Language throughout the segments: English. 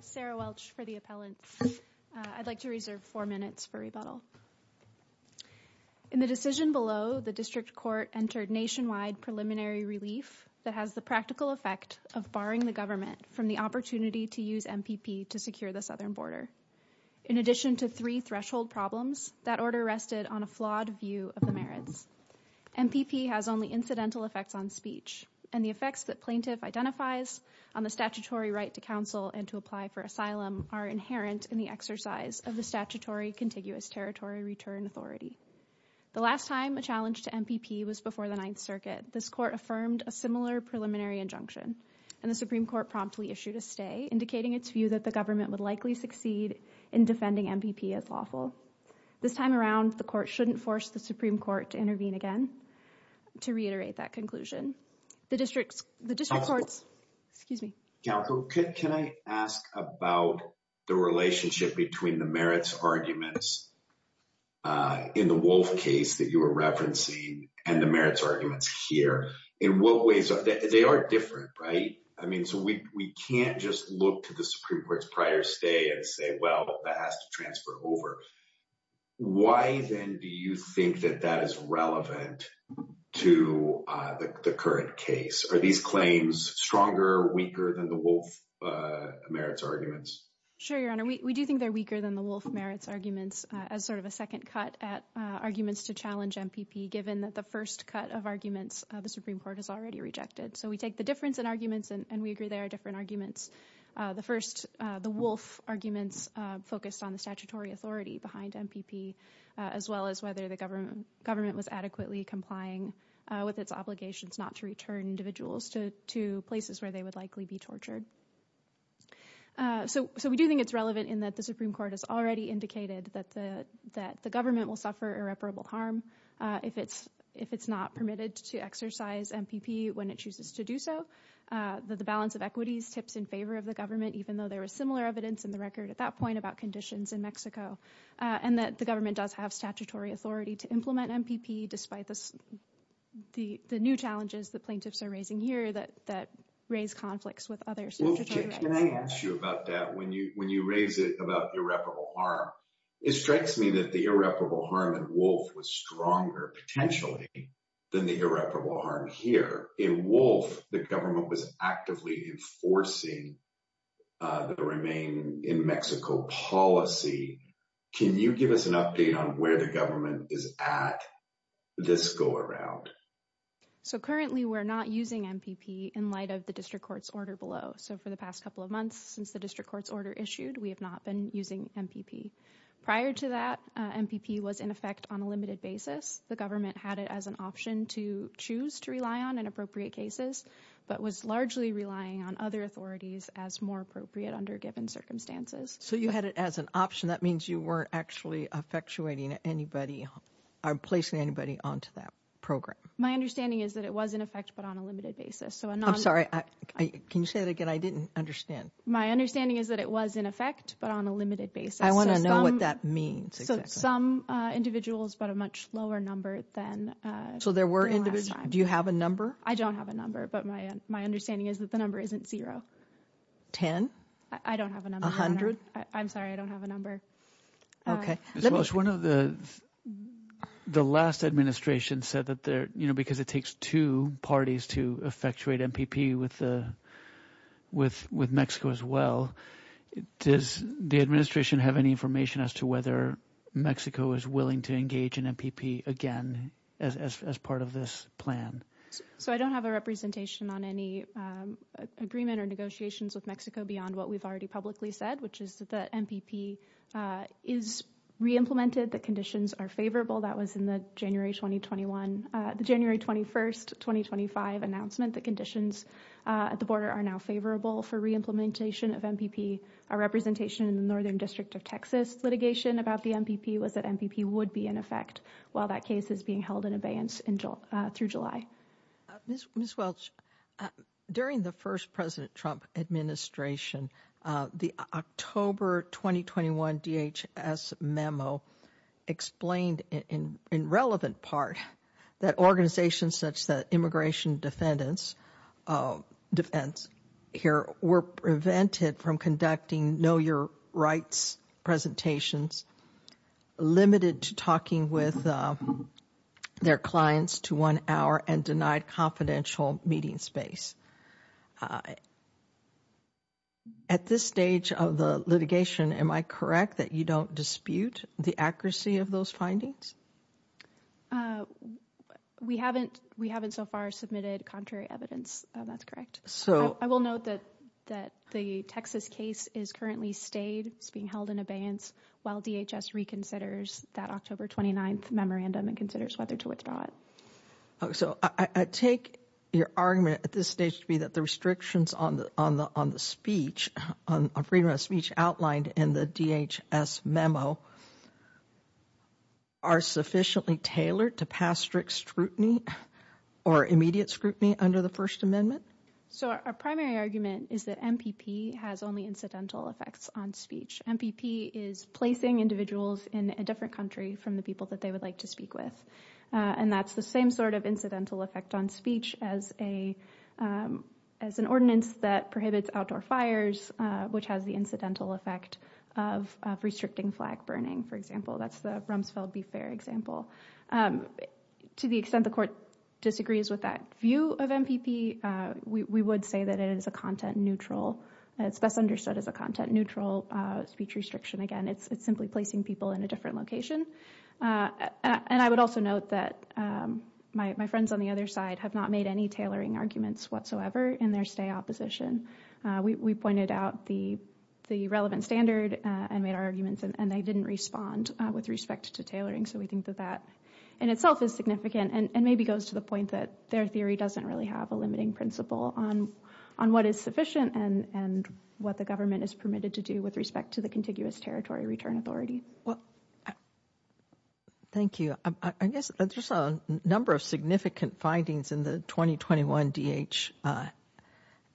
Sarah Welch for the appellants. I'd like to reserve four minutes for rebuttal. In the decision below, the district court entered nationwide preliminary relief that has the practical effect of barring the government from the opportunity to use MPP to secure the southern border. In addition to three threshold problems, that order rested on a flawed view of the merits. MPP has only incidental effects on speech and the effects that plaintiff identifies on the statutory right to counsel and to apply for asylum are inherent in the exercise of the statutory contiguous territory return authority. The last time a challenge to MPP was before the Ninth Circuit. This court affirmed a similar preliminary injunction and the Supreme Court promptly issued a stay indicating its view that the government would likely succeed in defending MPP as lawful. This time around, the court shouldn't force the Supreme Court to intervene again. To reiterate that conclusion, the district courts, excuse me. Calico, can I ask about the relationship between the merits arguments in the Wolf case that you were referencing and the merits arguments here? In what ways are they are different, right? I mean, so we can't just look to the Supreme Court's prior stay and say, well, that has to transfer over. Why then do you think that that is relevant to the current case? Are these claims stronger, weaker than the Wolf merits arguments? Sure, Your Honor. We do think they're weaker than the Wolf merits arguments as sort of a second cut at arguments to challenge MPP, given that the first cut of arguments, the Supreme Court has already rejected. So we take the difference in arguments and we agree there are different arguments. The first, the Wolf arguments focused on the statutory authority behind MPP as well as whether the government was adequately complying with its obligations not to return individuals to places where they would likely be tortured. So we do think it's relevant in that the Supreme Court has already indicated that the government will suffer irreparable harm if it's not permitted to exercise MPP when it chooses to do so, that the balance of authorities tips in favor of the government, even though there was similar evidence in the record at that point about conditions in Mexico, and that the government does have statutory authority to implement MPP despite the new challenges the plaintiffs are raising here that raise conflicts with others. Wolf, can I ask you about that? When you raise it about irreparable harm, it strikes me that the irreparable harm in Wolf was stronger potentially than the irreparable harm here. In Wolf, the government was actively enforcing the Remain in Mexico policy. Can you give us an update on where the government is at this go-around? So currently we're not using MPP in light of the district court's order below. So for the past couple of months since the district court's order issued, we have not been using MPP. Prior to that, MPP was in effect on a limited basis. The government had it as an option to choose to rely on in appropriate cases, but was largely relying on other authorities as more appropriate under given circumstances. So you had it as an option. That means you weren't actually effectuating anybody or placing anybody onto that program. My understanding is that it was in effect, but on a limited basis. I'm sorry, can you say that again? I didn't understand. My understanding is that it was in effect, but on a limited basis. I want to know what that means. Some individuals, but a much lower number than last time. So there were individuals. Do you have a number? I don't have a number, but my understanding is that the number isn't zero. Ten? I don't have a number. A hundred? I'm sorry, I don't have a number. Okay. The last administration said that because it takes two parties to effectuate MPP with Mexico as well, does the administration have any information as to whether Mexico is willing to engage in MPP again as part of this plan? So I don't have a representation on any agreement or negotiations with Mexico beyond what we've already publicly said, which is that the MPP is re-implemented. The conditions are favorable. That was in the January 2021, the January 21st, 2025 announcement. The conditions at the border are now favorable for re-implementation of MPP. Our representation in the Northern District of Texas litigation about the MPP was that MPP would be in effect while that case is being held in abeyance through July. Ms. Welch, during the first President Trump administration, the October 2021 DHS memo explained in relevant part that organizations such that immigration defendants defense here were prevented from conducting know your rights presentations, limited to talking with their clients to one hour and denied confidential meeting space. I at this stage of the litigation, am I correct that you don't dispute the accuracy of those findings? We haven't, we haven't so far submitted contrary evidence. That's correct. So I will note that that the Texas case is currently stayed. It's being held in abeyance while DHS reconsiders that October 29th memorandum and considers whether to withdraw it. So I take your argument at this stage to be that the restrictions on the, on the, on the speech on freedom of speech outlined in the DHS memo are sufficiently tailored to pass strict scrutiny or immediate scrutiny under the first amendment. So our primary argument is that MPP has only incidental effects on speech. MPP is placing individuals in a different country from the people that they would like to speak with. And that's the same sort of incidental effect on speech as a, as an ordinance that prohibits outdoor fires, which has the incidental effect of restricting flag burning. For example, that's the Rumsfeld be fair example. To the extent the court disagrees with that view of MPP, we would say that it is a content neutral, it's best understood as a content neutral speech restriction. Again, it's simply placing people in a different location. And I would also note that my friends on the other side have not made any tailoring arguments whatsoever in their stay opposition. We pointed out the relevant standard and made our arguments and they didn't respond with respect to tailoring. So we think that that in itself is significant and maybe goes to the point that their theory doesn't really have a limiting principle on what is sufficient and what the territory return authority. Well, thank you. I guess there's a number of significant findings in the 2021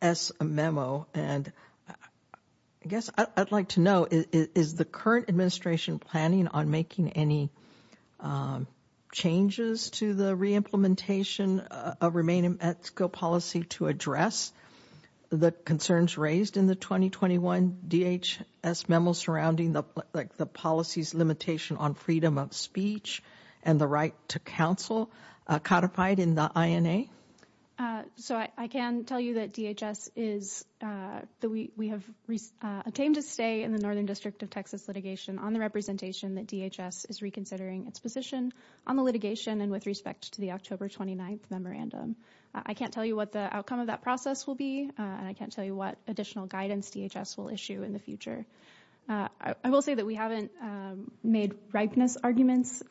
DHS memo. And I guess I'd like to know is the current administration planning on making any changes to the re-implementation of remaining at school policy to address the concerns raised in the 2021 DHS memo surrounding the like the policy's limitation on freedom of speech and the right to counsel codified in the INA? So I can tell you that DHS is, that we have attained a stay in the Northern District of Texas litigation on the representation that DHS is reconsidering its position on the litigation and with respect to the October 29th memorandum. I can't tell you the outcome of that process will be and I can't tell you what additional guidance DHS will issue in the future. I will say that we haven't made ripeness arguments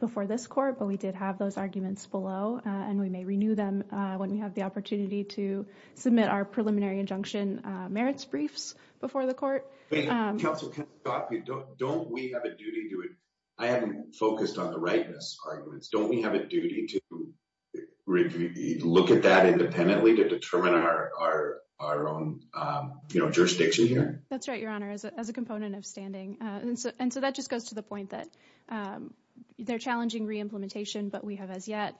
before this court, but we did have those arguments below and we may renew them when we have the opportunity to submit our preliminary injunction merits briefs before the court. Council, don't we have a duty to, I haven't determined our own jurisdiction here? That's right, Your Honor, as a component of standing. And so that just goes to the point that they're challenging re-implementation, but we have as yet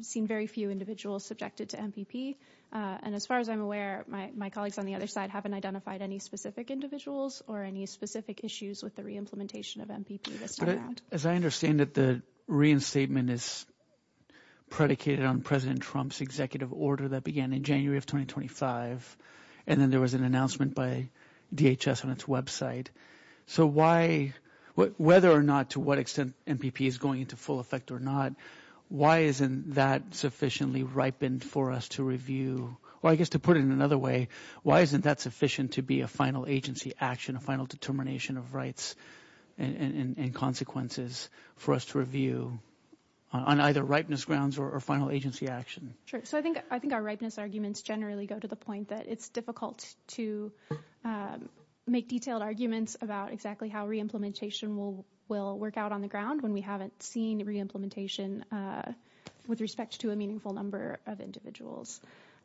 seen very few individuals subjected to MPP. And as far as I'm aware, my colleagues on the other side haven't identified any specific individuals or any specific issues with the re-implementation of MPP. As I understand that the reinstatement is predicated on President Trump's executive order that began in January of 2025 and then there was an announcement by DHS on its website. So why, whether or not to what extent MPP is going into full effect or not, why isn't that sufficiently ripened for us to review? Well, I guess to put it in another way, why isn't that sufficient to be a final agency action, a final determination of rights and consequences for us to review on either ripeness grounds or final agency action? Sure. So I think our ripeness arguments generally go to the point that it's difficult to make detailed arguments about exactly how re-implementation will work out on the ground when we haven't seen re-implementation with respect to a meaningful number of individuals.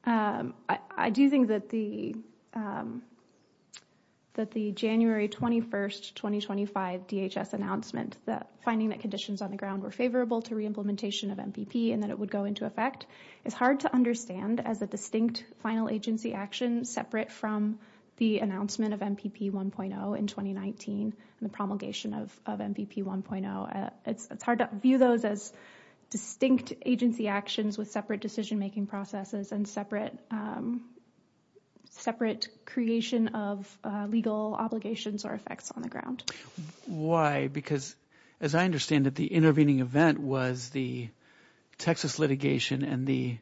I do think that the January 21st, 2025 DHS announcement that finding that conditions on the ground were favorable to re-implementation of MPP and that it would go into effect is hard to understand as a distinct final agency action separate from the announcement of MPP 1.0 in 2019 and the promulgation of MPP 1.0. It's hard to view those as distinct agency actions with separate decision-making processes and separate creation of legal obligations or effects on the ground. Why? Because as I understand it, the intervening event was the Texas litigation and the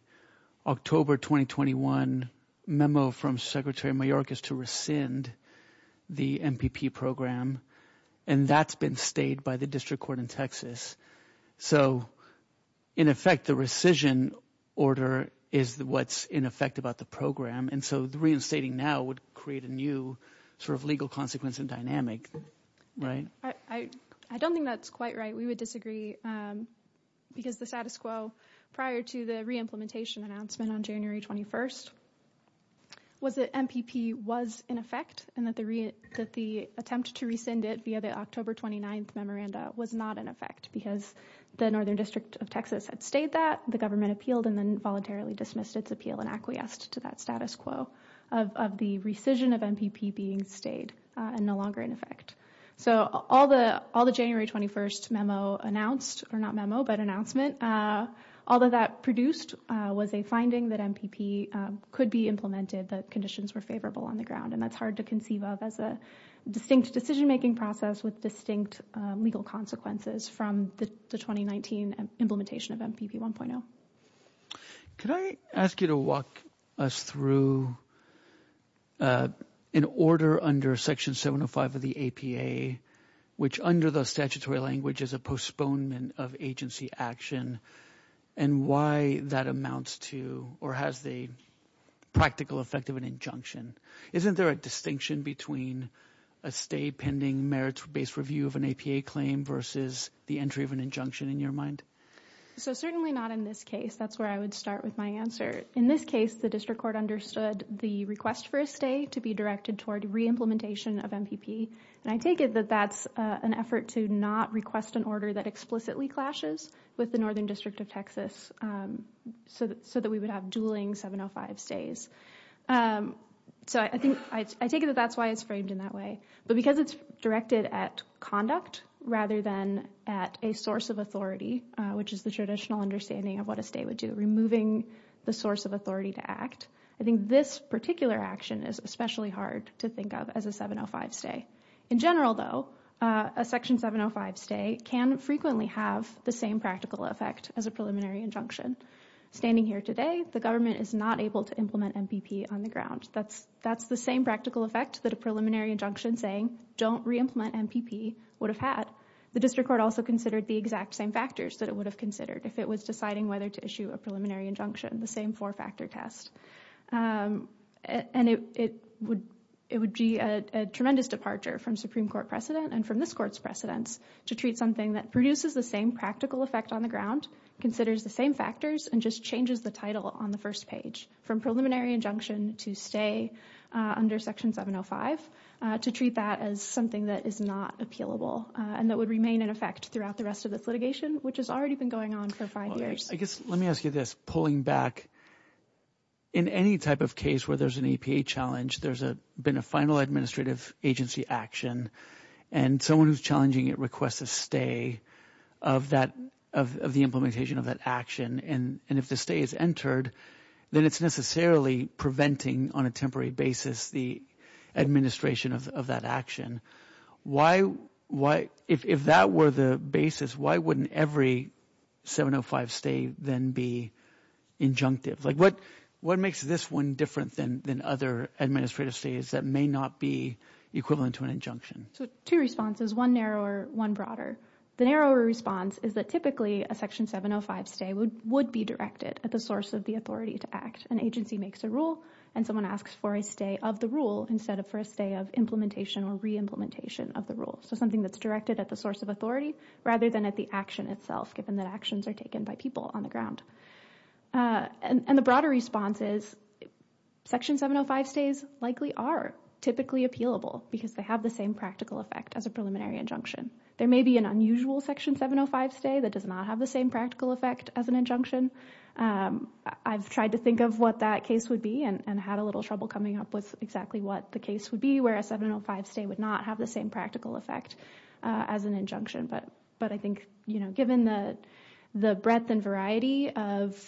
October 2021 memo from Secretary Mayorkas to rescind the MPP program and that's been stayed by the district court in Texas. So in effect, the rescission order is what's in effect about the program and so the reinstating now would create a new sort of legal consequence and dynamic, right? I don't think that's quite right. We would disagree because the status quo prior to the re-implementation announcement on January 21st was that MPP was in effect and that the attempt to rescind it via the October 29th memoranda was not in effect because the Northern District of Texas had stayed that, the government appealed and then voluntarily dismissed its appeal and acquiesced to that status quo of the rescission of MPP being stayed and no longer in effect. So all the January 21st memo announced, or not memo, but announcement, all of that produced was a finding that MPP could be implemented, that conditions were favorable on the ground and that's hard to conceive of as a distinct decision-making process with distinct legal consequences from the 2019 implementation of MPP 1.0. Could I ask you to walk us through an order under Section 705 of the APA, which under the statutory language is a postponement of agency action, and why that amounts to or has the practical effect of an injunction? Isn't there a distinction between a stay pending merits-based review of an APA claim versus the entry of an injunction in your mind? So certainly not in this case, that's where I would start with my answer. In this case, the District Court understood the request for a stay to be directed toward re-implementation of MPP and I take it that that's an effort to not request an order that explicitly clashes with the Northern District of Texas so that we would have dueling 705 stays. So I think, I take it that that's why it's framed in that way, but because it's directed at conduct rather than at a source of authority, which is the traditional understanding of what a stay would do, removing the source of authority to act, I think this particular action is especially hard to think of as a 705 stay. In general though, a Section 705 stay can frequently have the same practical effect as a preliminary injunction. Standing here today, the government is not able to implement MPP on the ground. That's the same practical effect that a preliminary injunction saying don't re-implement MPP would have had. The District Court also considered the exact same factors that it would have considered if it was deciding whether to issue a preliminary injunction, the same four-factor test. And it would be a tremendous departure from Supreme Court precedent and from this Court's precedence to treat something that produces the same practical effect on the ground, considers the same factors, and just changes the title on the first page. From preliminary injunction to stay under Section 705 to treat that as something that is not appealable and that would remain in effect throughout the rest of this litigation, which has already been going on for five years. I guess let me ask you this, pulling back in any type of case where there's an APA challenge, there's a been a final administrative agency action and someone who's challenging it requests a stay of that of the implementation of that action. And if the stay is entered, then it's necessarily preventing on a temporary basis the administration of that action. Why, if that were the basis, why wouldn't every 705 stay then be injunctive? Like what makes this one different than other administrative stays that may not be equivalent to an injunction? So two responses, one narrower, one broader. The narrower response is that typically a Section 705 stay would be directed at the source of the authority to act. An agency makes a rule and someone asks for a stay of the rule instead of for a stay of implementation or re-implementation of the rule. So something that's directed at the source of authority rather than at the action itself, given that actions are taken by people on the ground. And the broader response is Section 705 stays likely are typically appealable because they the same practical effect as a preliminary injunction. There may be an unusual Section 705 stay that does not have the same practical effect as an injunction. I've tried to think of what that case would be and had a little trouble coming up with exactly what the case would be where a 705 stay would not have the same practical effect as an injunction. But I think, you know, given the breadth and variety of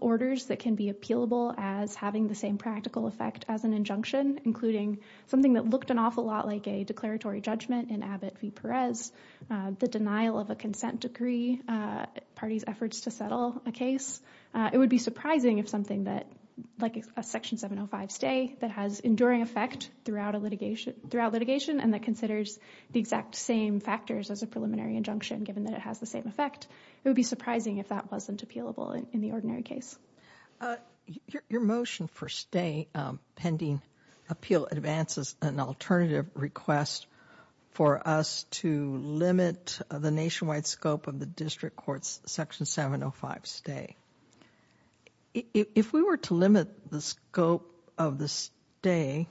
orders that can be appealable as having the same practical effect as an injunction, including something that looked an awful lot like a declaratory judgment in Abbott v. Perez, the denial of a consent decree, parties' efforts to settle a case, it would be surprising if something that, like a Section 705 stay, that has enduring effect throughout litigation and that considers the exact same factors as a preliminary injunction, given that it has the same effect, it would be surprising if that wasn't appealable in the ordinary case. Your motion for stay pending appeal advances an alternative request for us to limit the nationwide scope of the District Court's Section 705 stay. If we were to limit the scope of the stay,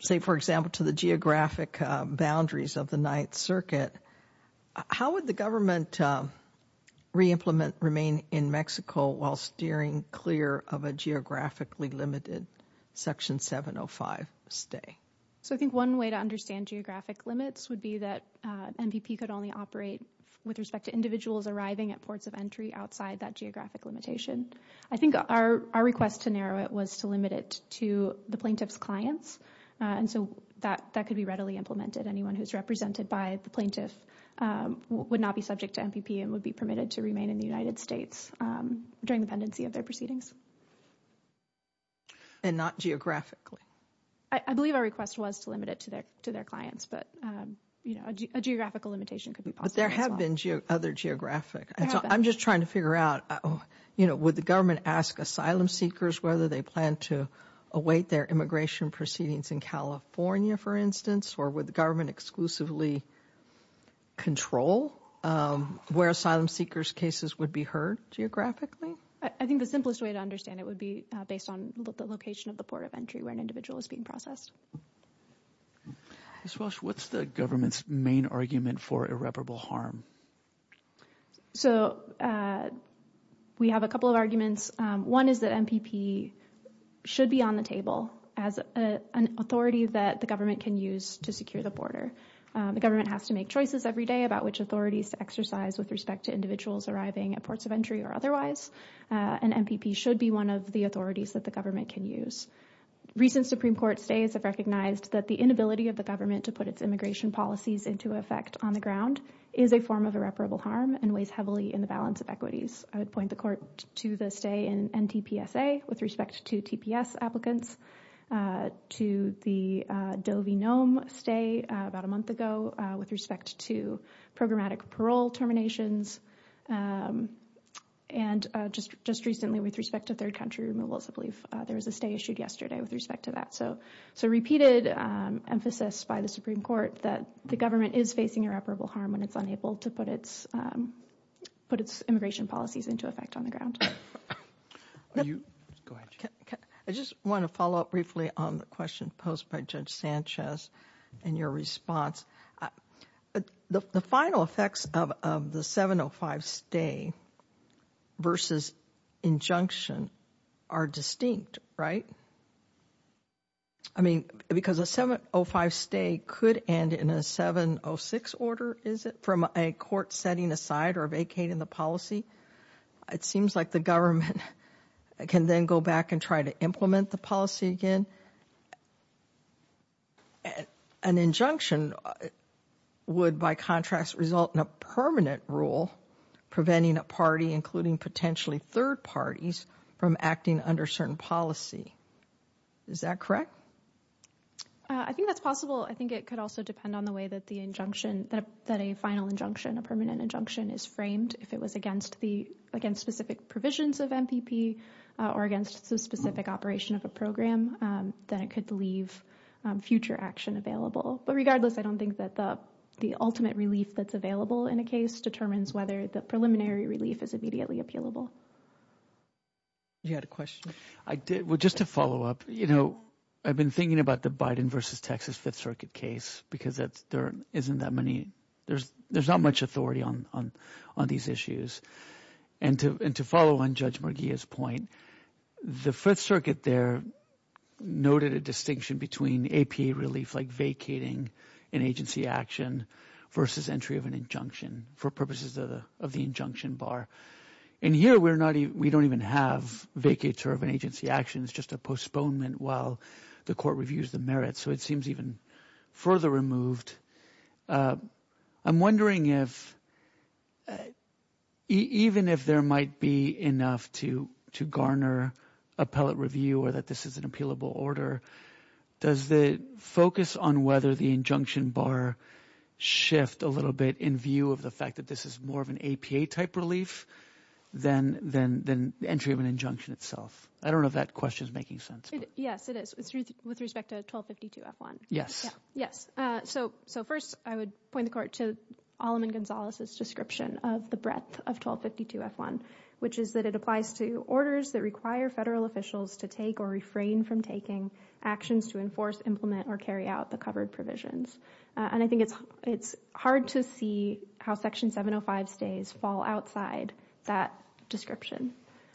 say, for example, to the geographic boundaries of the Ninth Circuit, how would the government re-implement, remain in Mexico while steering clear of a geographically limited Section 705 stay? So I think one way to understand geographic limits would be that MPP could only operate with respect to individuals arriving at ports of entry outside that geographic limitation. I think our request to narrow it was to limit it to the plaintiff's clients, and so that could be readily implemented. Anyone who's represented by the plaintiff would not be subject to MPP and would be permitted to remain in the United States during the pendency of their proceedings. And not geographically? I believe our request was to limit it to their clients, but you know, a geographical limitation could be possible as well. But there have been other geographic. I'm just trying to figure out, you know, would the government ask asylum seekers whether they plan to await their immigration proceedings in California, for instance, or would the government exclusively control where asylum seekers' cases would be heard geographically? I think the simplest way to understand it would be based on the location of the port of entry where an individual is being processed. Ms. Walsh, what's the government's main argument for irreparable harm? So we have a couple of arguments. One is that MPP should be on the table as an authority that the government can use to secure the border. The government has to make choices every day about which authorities to exercise with respect to individuals arriving at ports of entry or otherwise, and MPP should be one of the authorities that the government can use. Recent Supreme Court stays have recognized that the inability of the government to put its immigration policies into effect on the ground is a form of irreparable harm and weighs heavily in the balance of equities. I would point the court to the stay in NTPSA with respect to TPS applicants, to the Dovinome stay about a month ago with respect to programmatic parole terminations, and just recently with respect to third country removal. I believe there was a stay issued yesterday with respect to So repeated emphasis by the Supreme Court that the government is facing irreparable harm when it's unable to put its immigration policies into effect on the ground. I just want to follow up briefly on the question posed by Judge Sanchez and your response. The final effects of the 705 stay versus injunction are distinct, right? I mean, because a 705 stay could end in a 706 order, is it, from a court setting aside or vacating the policy. It seems like the government can then go back and try to implement the policy again. An injunction would, by contrast, result in a permanent rule preventing a party, including potentially third parties, from acting under certain policy. Is that correct? I think that's possible. I think it could also depend on the way that the injunction, that a final injunction, a permanent injunction, is framed. If it was against specific provisions of MPP or against a specific operation of a program, then it could leave future action available. But regardless, I don't think that the ultimate relief that's available in a case determines whether the preliminary relief is immediately appealable. You had a question? I did. Well, just to follow up, you know, I've been thinking about the Biden versus Texas Fifth Circuit case because there isn't that many, there's not much authority on these issues. And to follow on Judge Murguia's point, the Fifth Circuit there noted a distinction between APA relief, like vacating an agency action, versus entry of an injunction for purposes of the injunction bar. And here we're not, we don't even have vacates or of an agency actions, just a postponement while the court reviews the merits. So it seems even further removed. I'm wondering if, even if there might be enough to garner appellate review or that this is an focus on whether the injunction bar shift a little bit in view of the fact that this is more of an APA type relief than the entry of an injunction itself. I don't know if that question is making sense. Yes, it is. With respect to 1252-F1. Yes. Yes. So first I would point the court to Alleman Gonzalez's description of the breadth of 1252-F1, which is that it applies to orders that require federal officials to take or refrain from taking actions to enforce, implement, or carry out the covered provisions. And I think it's, it's hard to see how Section 705 stays fall outside that description.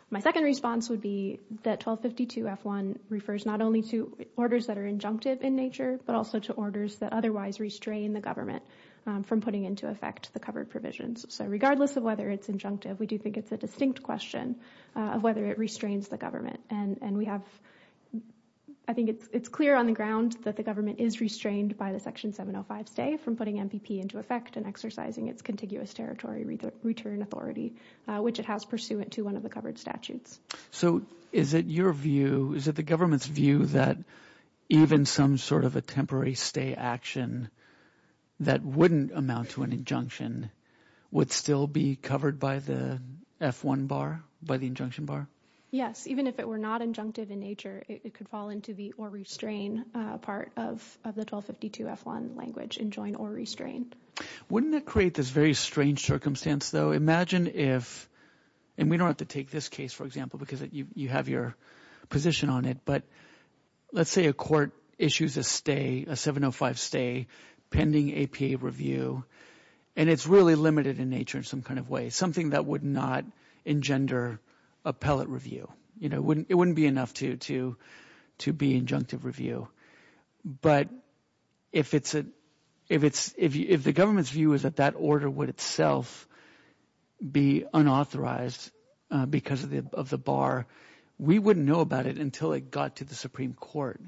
My second response would be that 1252-F1 refers not only to orders that are injunctive in nature, but also to orders that otherwise restrain the government from putting into effect the covered provisions. So regardless of whether it's injunctive, we do think it's a distinct question of whether it restrains the government. And we have, I think it's clear on the ground that the government is restrained by the Section 705 stay from putting MPP into effect and exercising its contiguous territory return authority, which it has pursuant to one of the covered statutes. So is it your view, is it the government's view that even some sort of a temporary stay action that wouldn't amount to an injunction would still be covered by the F1 bar, by the injunction bar? Yes. Even if it were not injunctive in nature, it could fall into the or restrain part of the 1252-F1 language, enjoin or restrain. Wouldn't that create this very strange circumstance though? Imagine if, and we don't have to take this case, for example, because you have your position on it, but let's say a court issues a stay, a 705 stay pending APA review, and it's really limited in nature in some kind of way, something that would not engender appellate review, you know, it wouldn't be enough to be injunctive review. But if the government's view is that that order would itself be unauthorized because of the bar, we wouldn't know about it until it got to Supreme Court.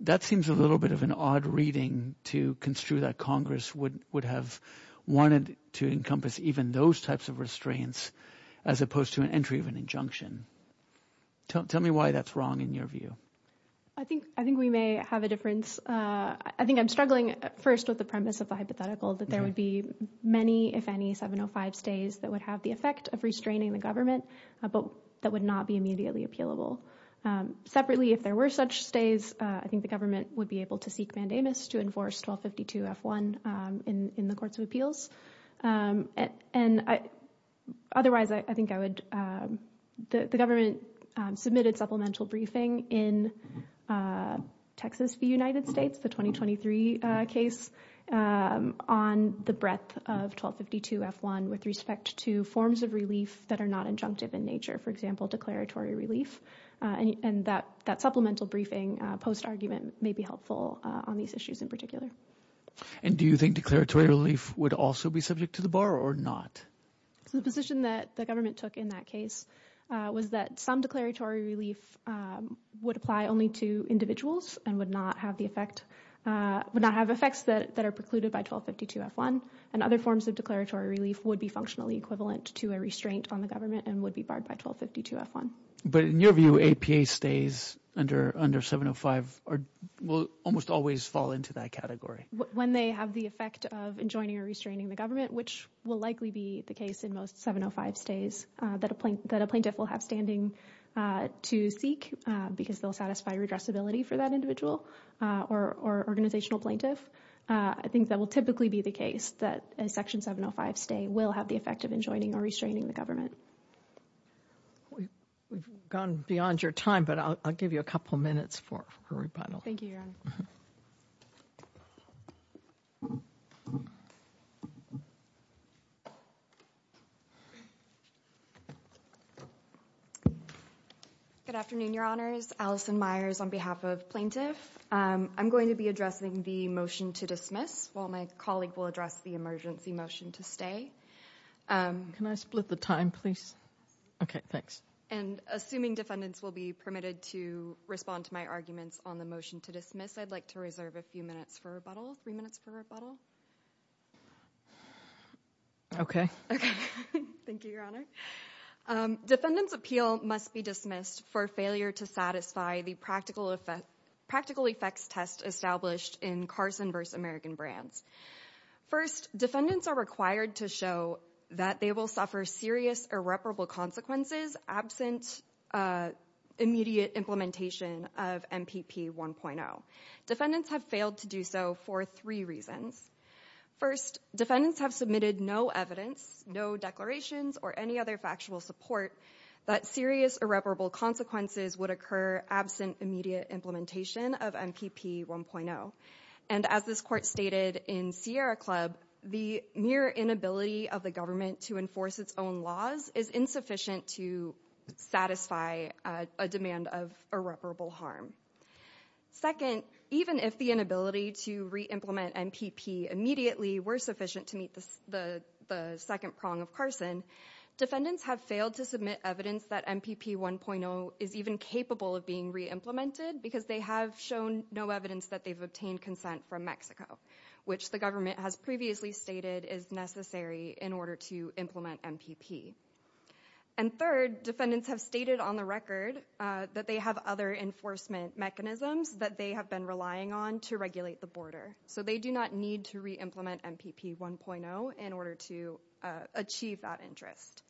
That seems a little bit of an odd reading to construe that Congress would have wanted to encompass even those types of restraints as opposed to an entry of an injunction. Tell me why that's wrong in your view. I think we may have a difference. I think I'm struggling first with the premise of the hypothetical that there would be many, if any, 705 stays that would have the effect of restraining the government, but that would not be immediately appealable. Separately, if there were such stays, I think the government would be able to seek mandamus to enforce 1252-F1 in the courts of appeals. And otherwise, I think I would, the government submitted supplemental briefing in Texas v. United States, the 2023 case, on the breadth of 1252-F1 with respect to forms of that are not injunctive in nature, for example, declaratory relief. And that supplemental briefing post-argument may be helpful on these issues in particular. And do you think declaratory relief would also be subject to the bar or not? So the position that the government took in that case was that some declaratory relief would apply only to individuals and would not have the effect, would not have effects that are precluded by 1252-F1. And other forms of declaratory relief would be functionally equivalent to a restraint on the government and would be barred by 1252-F1. But in your view, APA stays under 705 will almost always fall into that category? When they have the effect of enjoining or restraining the government, which will likely be the case in most 705 stays that a plaintiff will have standing to seek because they'll satisfy redressability for that individual or organizational plaintiff. I think that will typically be the case that a section 705 stay will have the effect of enjoining or restraining the government. We've gone beyond your time, but I'll give you a couple minutes for a rebuttal. Thank you, Your Honor. Good afternoon, Your Honors. Alison Myers on behalf of plaintiff. I'm going to be addressing the motion to dismiss while my colleague will address the emergency motion to stay. Can I split the time, please? Okay, thanks. And assuming defendants will be permitted to respond to my arguments on the motion to dismiss, I'd like to reserve a few minutes for rebuttal, three minutes for rebuttal. Okay. Thank you, Your Honor. Defendants' appeal must be dismissed for failure to satisfy the practical effects test established in Carson v. American Brands. First, defendants are required to show that they will suffer serious irreparable consequences absent immediate implementation of MPP 1.0. Defendants have failed to do so for three reasons. First, defendants have submitted no evidence, no declarations, or any other factual support that serious irreparable consequences would occur absent immediate implementation of MPP 1.0. And as this court stated in Sierra Club, the mere inability of the government to enforce its own laws is insufficient to satisfy a demand of irreparable harm. Second, even if the inability to reimplement MPP immediately were sufficient to meet the second prong of Carson, defendants have failed to submit evidence that MPP 1.0 is even capable of being reimplemented because they have shown no evidence that they've obtained consent from Mexico, which the government has previously stated is necessary in order to implement MPP. And third, defendants have stated on the record that they have other enforcement mechanisms that they have been relying on to regulate the border, so they do not need to re-implement MPP 1.0 in order to achieve that interest.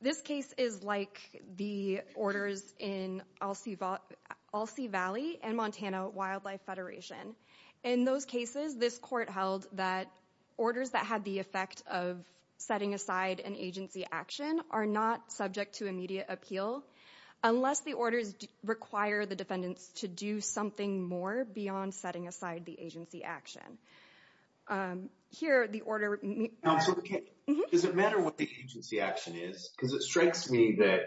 This case is like the orders in Alci Valley and Montana Wildlife Federation. In those cases, this court held that orders that had the effect of setting aside an agency action are not subject to immediate appeal unless the orders require the defendants to do something more beyond setting aside the agency action. Here, the order... Does it matter what the agency action is? Because it strikes me that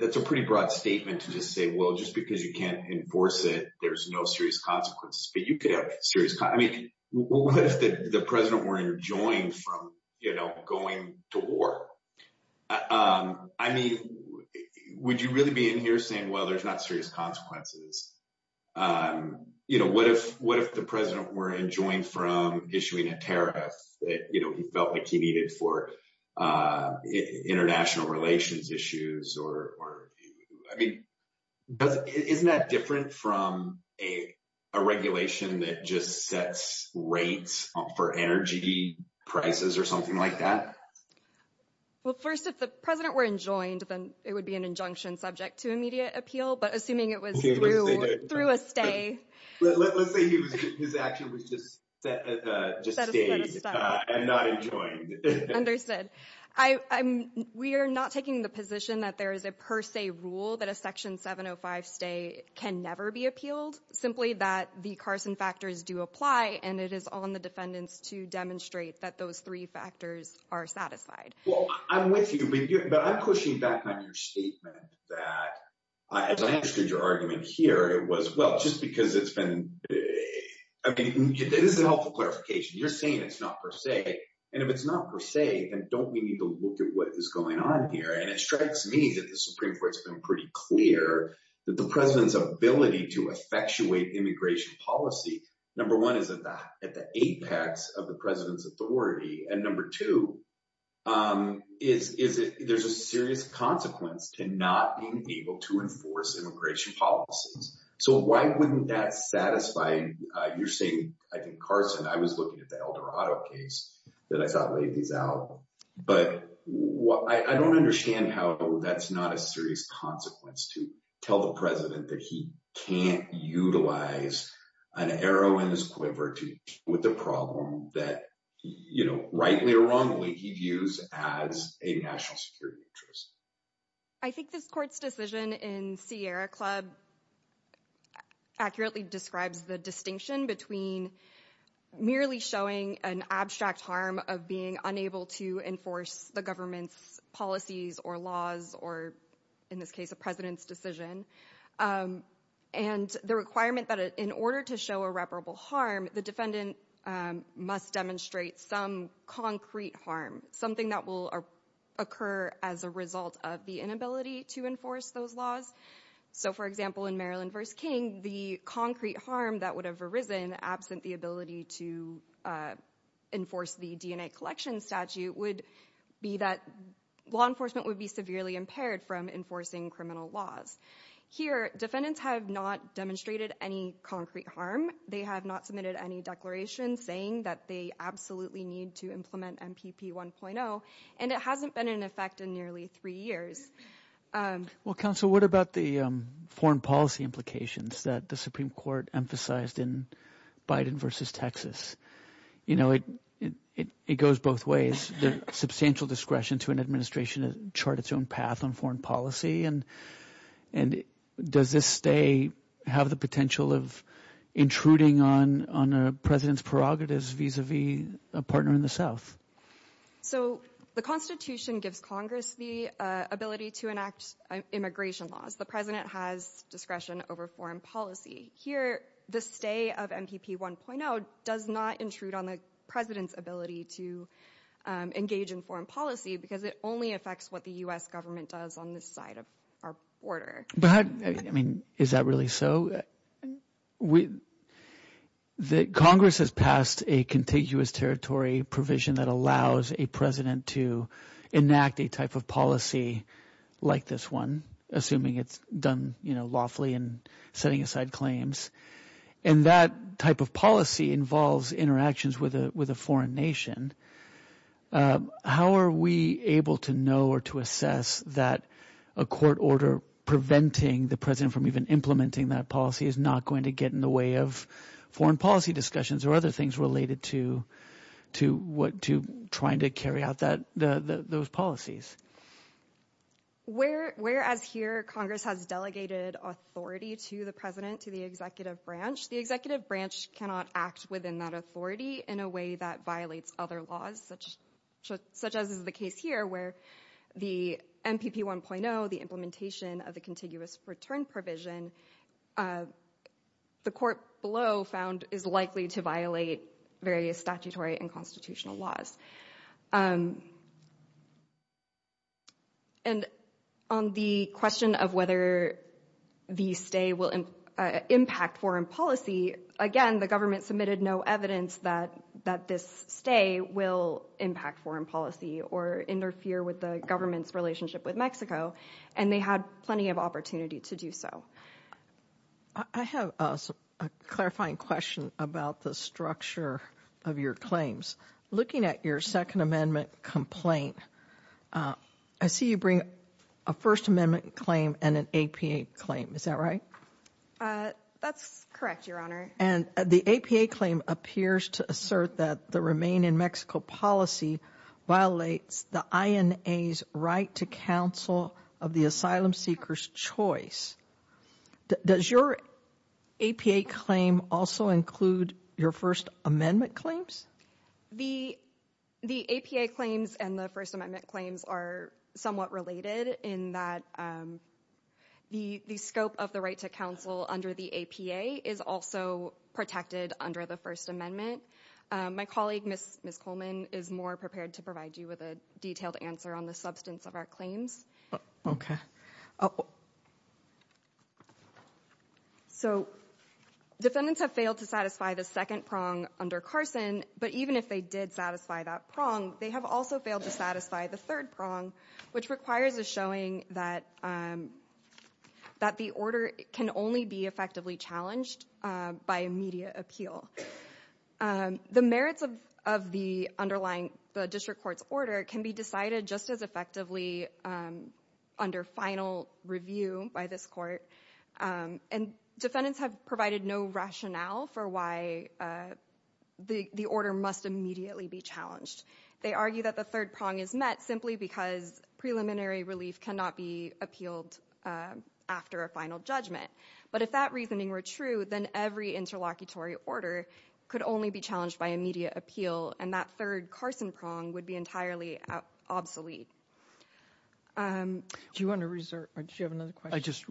that's a pretty broad statement to just say, well, just because you can't enforce it, there's no serious consequences, but you could have serious... I mean, what if the president were enjoined from going to war? I mean, would you really be in here saying, well, there's not serious consequences? You know, what if the president were enjoined from issuing a tariff that, you know, he felt like he needed for international relations issues or... I mean, isn't that different from a regulation that just sets rates for energy prices or something like that? Well, first, if the president were enjoined, then it would be an injunction subject to immediate appeal, but assuming it was through a stay... Let's say his action was just stayed and not enjoined. Understood. We are not taking the position that there is a per se rule that a Section 705 stay can never be appealed, simply that the Carson factors do apply and it is on the defendants to demonstrate that those three factors are satisfied. Well, I'm with you, but I'm pushing back on your statement that, as I understood your argument here, it was, well, just because it's been... I mean, this is a helpful clarification. You're saying it's not per se, and if it's not per se, then don't we need to look at what is going on here? And it strikes me that the Supreme Court has been pretty clear that the president's ability to effectuate immigration policy, number one, is at the apex of the president's authority, and number two, is there's a serious consequence to not being able to enforce immigration policies. So why wouldn't that satisfy... You're saying, I think, Carson, I was looking at the Eldorado case that I thought laid these out, but I don't understand how that's not a serious consequence to tell the president that he can't utilize an arrow in his quiver to deal with the problem that, you know, rightly or wrongly, he views as a national security interest. I think this court's decision in Sierra Club accurately describes the distinction between merely showing an abstract harm of being unable to enforce the government's policies or laws, or in this case, a president's decision, and the requirement that in order to show irreparable harm, the defendant must demonstrate some concrete harm, something that will occur as a result of the inability to enforce those laws. So, for example, in Maryland v. King, the concrete harm that would have arisen absent the ability to enforce the DNA collection statute would be that law enforcement would be severely impaired from enforcing criminal laws. Here, defendants have not demonstrated any concrete harm. They have not submitted any declarations saying that they absolutely need to implement MPP 1.0, and it hasn't been in effect in nearly three years. Well, counsel, what about the foreign policy implications that the Supreme Court emphasized in Biden v. Texas? You know, it goes both ways. Substantial discretion to an administration chart its own path on foreign policy, and does this stay have the potential of intruding on a president's prerogatives vis-a-vis a partner in the South? So, the Constitution gives Congress the ability to enact immigration laws. The president has discretion over foreign policy. Here, the stay of MPP 1.0 does not intrude on the president's ability to engage in foreign policy because it only affects what the U.S. government does on this side of our border. But, I mean, is that really so? Congress has passed a contiguous territory provision that allows a president to enact a type of policy like this one, assuming it's done lawfully and setting aside claims, and that type of policy involves interactions with a foreign nation. How are we able to know or to assess that a court order preventing the president from even implementing that policy is not going to get in the way of foreign policy discussions or other things related to trying to carry out those policies? So, whereas here Congress has delegated authority to the president, to the executive branch, the executive branch cannot act within that authority in a way that violates other laws, such as is the case here where the MPP 1.0, the implementation of the contiguous return provision, the court below found is likely to violate various statutory and constitutional laws. And on the question of whether the stay will impact foreign policy, again, the government submitted no evidence that this stay will impact foreign policy or interfere with the government's relationship with Mexico, and they had plenty of opportunity to do so. I have a clarifying question about the structure of your claims. Looking at your Second Amendment complaint, I see you bring a First Amendment claim and an APA claim. Is that right? That's correct, Your Honor. And the APA claim appears to assert that the Remain in Mexico policy violates the INA's right to counsel of the asylum seeker's choice. Does your APA claim also include your First Amendment claims? The APA claims and the First Amendment claims are somewhat related in that the scope of the right to counsel under the APA is also protected under the First Amendment. My colleague, Ms. Coleman, is more prepared to provide you with a detailed answer on the substance of our claims. Okay. Oh, so defendants have failed to satisfy the second prong under Carson, but even if they did satisfy that prong, they have also failed to satisfy the third prong, which requires a showing that the order can only be effectively challenged by immediate appeal. The merits of the underlying district court's order can be decided just as effectively under final review by this court, and defendants have provided no rationale for why the order must immediately be challenged. They argue that the third prong is met simply because preliminary relief cannot be appealed after a final judgment. But if that reasoning were true, then every interlocutory order could only be challenged by immediate appeal, and that third Carson prong would be entirely obsolete. Do you want to reserve, or do you have another question? I just,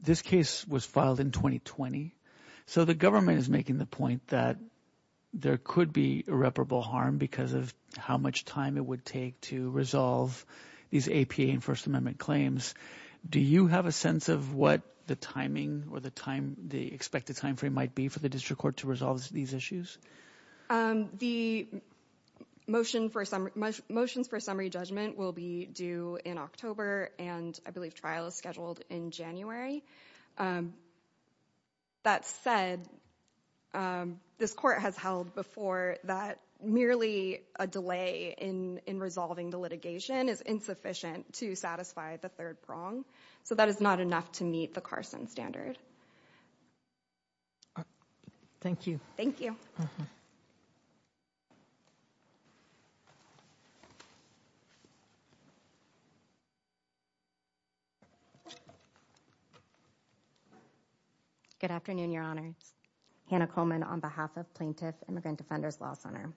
this case was filed in 2020, so the government is making the point that there could be irreparable harm because of how much time it would take to resolve these APA and First Amendment claims. Do you have a sense of what the timing or the time, the expected timeframe might be for the district court to resolve these issues? Um, the motion for, motions for summary judgment will be due in October, and I believe trial is scheduled in January. That said, this court has held before that merely a delay in resolving the litigation is insufficient to satisfy the third prong, so that is not enough to meet the Carson standard. Thank you. Thank you. Good afternoon, Your Honor. Hannah Coleman on behalf of Plaintiff Immigrant Defenders Law Center.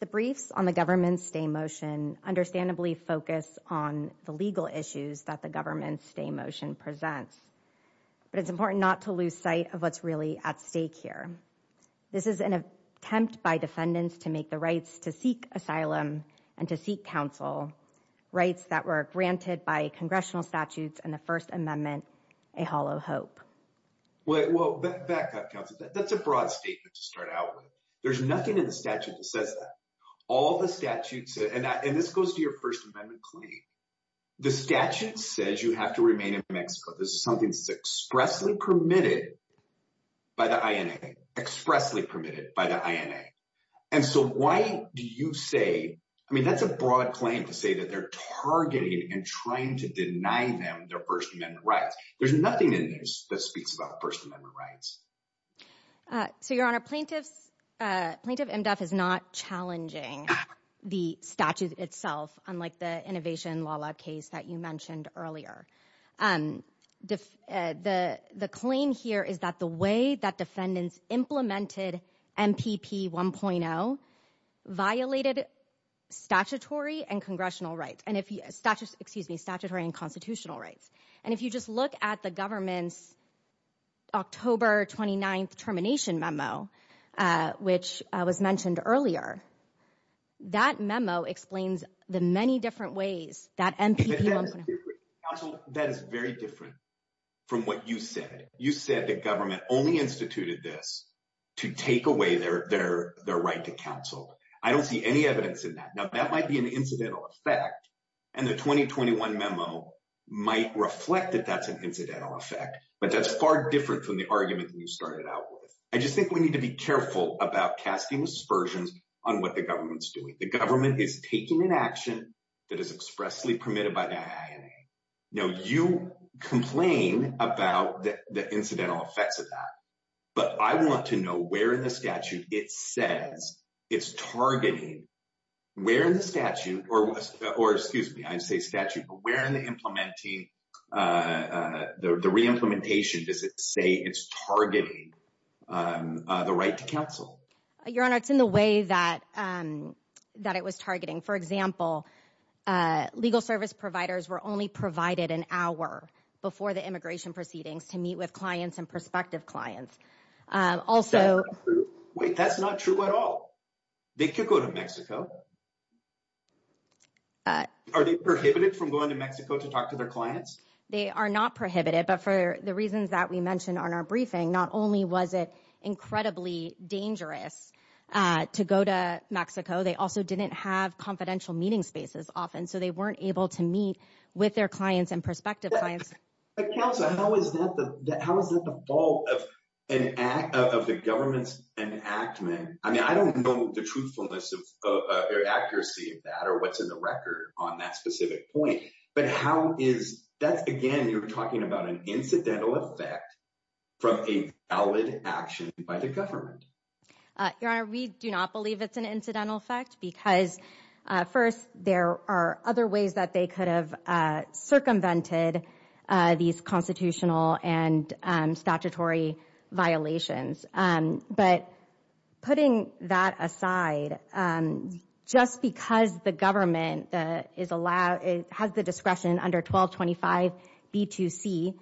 The briefs on the government's stay motion understandably focus on the legal issues that the government stay motion presents, but it's important not to lose sight of what's really at stake here. This is an attempt by defendants to make the rights to seek asylum and to seek counsel rights that were granted by congressional statutes and the First Amendment a hollow hope. Wait, whoa, back up, counsel. That's a broad statement to start out with. There's nothing in the statute that says that. All the statutes, and this goes to your First Amendment claim, the statute says you have to remain in Mexico. This is something that's expressly permitted by the INA. Expressly permitted by the INA. And so why do you say, I mean, that's a broad claim to say that they're targeting and trying to deny them their First Amendment rights. There's nothing in there that speaks about First Amendment rights. So, Your Honor, Plaintiff IMDEF is not challenging the statute itself, unlike the Innovation Law Lab case that you mentioned earlier. The claim here is that the way that defendants implemented MPP 1.0 violated statutory and congressional rights. And if you, excuse me, statutory and constitutional rights. And if you just look at the government's October 29th termination memo, which was mentioned earlier, that memo explains the many different ways that MPP 1.0. That is very different from what you said. You said the government only instituted this to take away their right to counsel. I don't see any evidence in that. Now, that might be an incidental effect. And the 2021 memo might reflect that that's an incidental effect. But that's far different from the argument that you started out with. I just think we need to be careful about casting aspersions on what the government's doing. The government is taking an action that is expressly permitted by the INA. Now, you complain about the incidental effects of that. But I want to know where in the statute it says it's targeting. Where in the statute, or excuse me, I say statute. But where in the re-implementation does it say it's targeting the right to counsel? Your Honor, it's in the way that it was targeting. For example, legal service providers were only provided an hour before the immigration proceedings to meet with clients and prospective clients. Also... Wait, that's not true at all. They could go to Mexico. Are they prohibited from going to Mexico to talk to their clients? They are not prohibited. But for the reasons that we mentioned on our briefing, not only was it incredibly dangerous to go to Mexico, they also didn't have confidential meeting spaces often. So they weren't able to meet with their clients and prospective clients. But Counselor, how is that the fault of the government's enactment? I mean, I don't know the truthfulness or accuracy of that or what's in the record on that specific point. But how is... That's, again, you're talking about an incidental effect from a valid action by the government. Your Honor, we do not believe it's an incidental effect because, first, there are other ways that they could have circumvented these constitutional and statutory violations. But putting that aside, just because the government has the discretion under 1225 B2C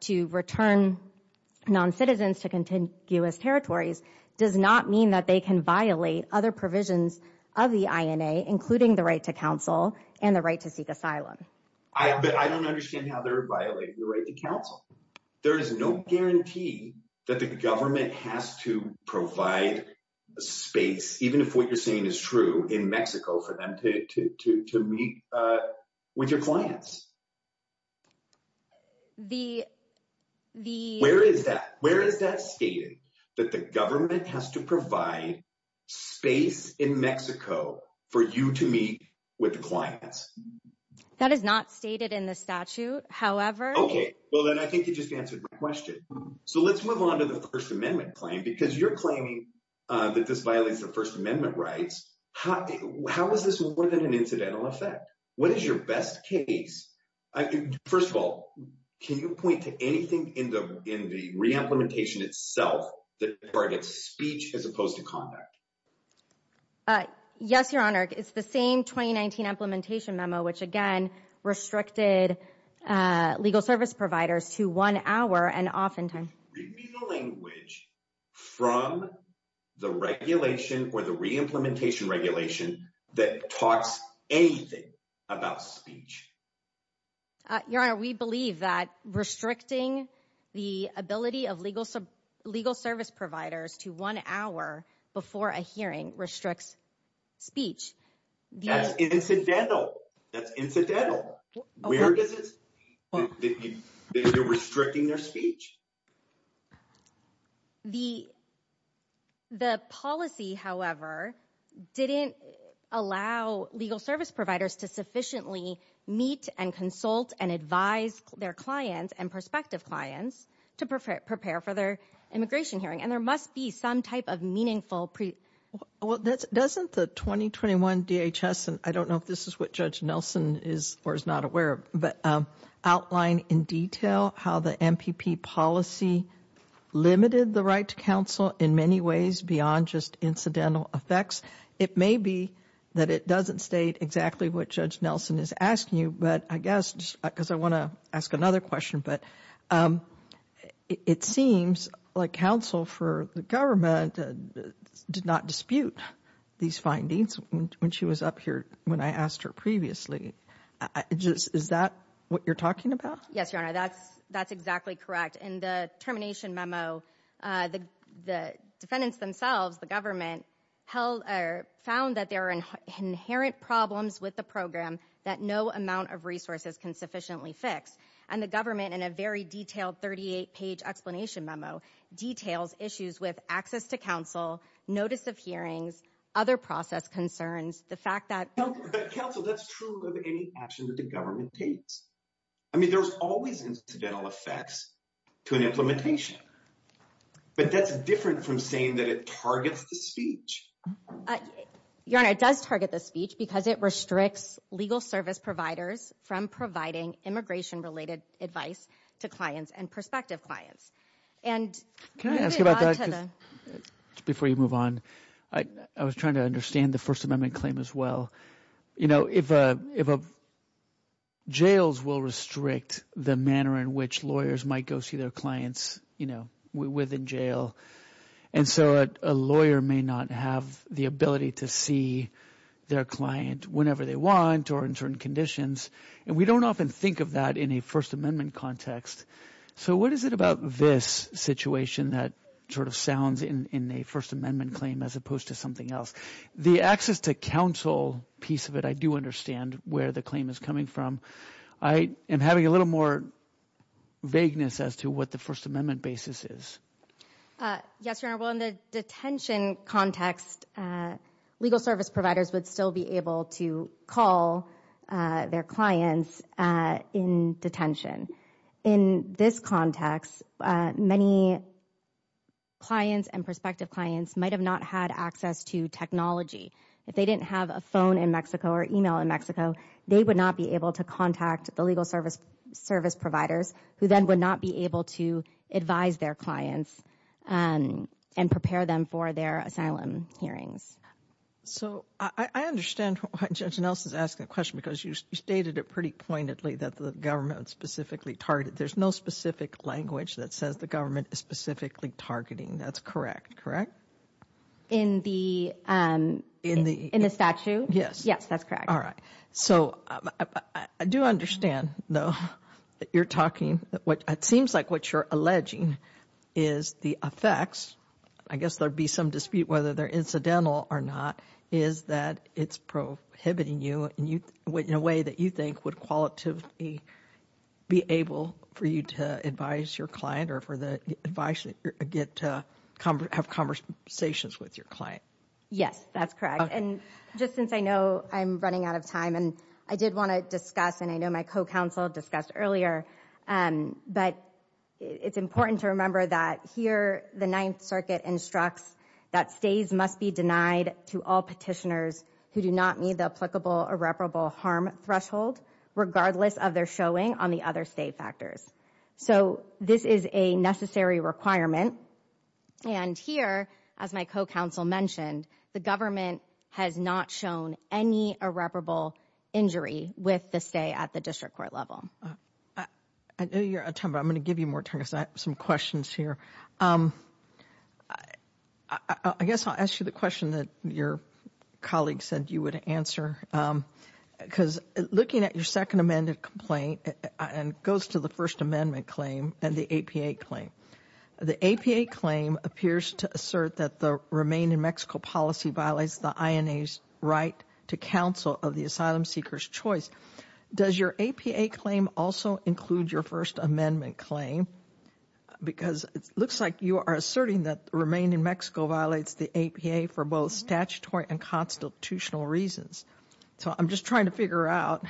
to return non-citizens to contiguous territories does not mean that they can violate other provisions of the INA, including the right to counsel and the right to seek asylum. But I don't understand how they're violating the right to counsel. There is no guarantee that the government has to provide a space, even if what you're saying is true, in Mexico for them to meet with your clients. Where is that? Where is that stated, that the government has to provide space in Mexico for you to meet with the clients? That is not stated in the statute. However... Okay. Well, then I think you just answered my question. So let's move on to the First Amendment claim because you're claiming that this violates the First Amendment rights. How is this more than an incidental effect? What is your best case? First of all, can you point to anything in the re-implementation itself that targets speech as opposed to conduct? Yes, Your Honor. It's the same 2019 implementation memo, which, again, restricted legal service providers to one hour and off in time. Read me the language from the regulation or the re-implementation regulation that talks anything about speech. Your Honor, we believe that restricting the ability of legal service providers to one hour before a hearing restricts speech. That's incidental. That's incidental. They're restricting their speech. The policy, however, didn't allow legal service providers to sufficiently meet and consult and advise their clients and prospective clients to prepare for their immigration hearing. And there must be some type of meaningful... Well, doesn't the 2021 DHS, and I don't know if this is what Judge Nelson is or is not aware of, outline in detail how the MPP policy limited the right to counsel in many ways beyond just incidental effects. It may be that it doesn't state exactly what Judge Nelson is asking you, but I guess, because I want to ask another question, but it seems like counsel for the government did not dispute these findings when she was up here, when I asked her previously. Is that what you're talking about? Yes, Your Honor, that's exactly correct. In the termination memo, the defendants themselves, the government, found that there are inherent problems with the program that no amount of resources can sufficiently fix. And the government, in a very detailed 38-page explanation memo, details issues with access to counsel, notice of hearings, other process concerns, the fact that... But counsel, that's true of any action that the government takes. I mean, there's always incidental effects to an implementation, but that's different from saying that it targets the speech. Your Honor, it does target the speech because it restricts legal service providers from providing immigration-related advice to clients and prospective clients. And... Can I ask you about that before you move on? I was trying to understand the First Amendment claim as well. You know, jails will restrict the manner in which lawyers might go see their clients, you know, within jail. And so a lawyer may not have the ability to see their client whenever they want or in certain conditions. And we don't often think of that in a First Amendment context. So what is it about this situation that sort of sounds in a First Amendment claim as opposed to something else? The access to counsel piece of it, I do understand where the claim is coming from. I am having a little more vagueness as to what the First Amendment basis is. Yes, Your Honor. Well, in the detention context, legal service providers would still be able to call their clients in detention. In this context, many clients and prospective clients might have not had access to technology. If they didn't have a phone in Mexico or email in Mexico, they would not be able to contact the legal service providers who then would not be able to advise their clients and prepare them for their asylum hearings. So I understand why Judge Nelson is asking a question because you stated it pretty pointedly that the government specifically targeted. There's no specific language that says the government is specifically targeting. That's correct, correct? In the statute? Yes. Yes, that's correct. All right. So I do understand though that you're talking, it seems like what you're alleging is the effects. I guess there'd be some dispute whether they're incidental or not is that it's prohibiting you in a way that you think would qualitatively be able for you to advise your client or for the advice that you get to have conversations with your client? Yes, that's correct. And just since I know I'm running out of time and I did want to discuss and I know my co-counsel discussed earlier, but it's important to remember that here, the Ninth Circuit instructs that stays must be denied to all petitioners who do not meet the applicable irreparable harm threshold regardless of their showing on the other state factors. So this is a necessary requirement. And here, as my co-counsel mentioned, the government has not shown any irreparable injury with the stay at the district court level. I know you're out of time, but I'm going to give you more time because I have some questions here. I guess I'll ask you the question that your colleague said you would answer because looking at your second amended complaint and goes to the First Amendment claim and the APA claim, the APA claim appears to assert that the Remain in Mexico policy violates the INA's right to counsel of the asylum seekers choice. Does your APA claim also include your First Amendment claim? Because it looks like you are asserting that Remain in Mexico violates the APA for both statutory and constitutional reasons. So I'm just trying to figure out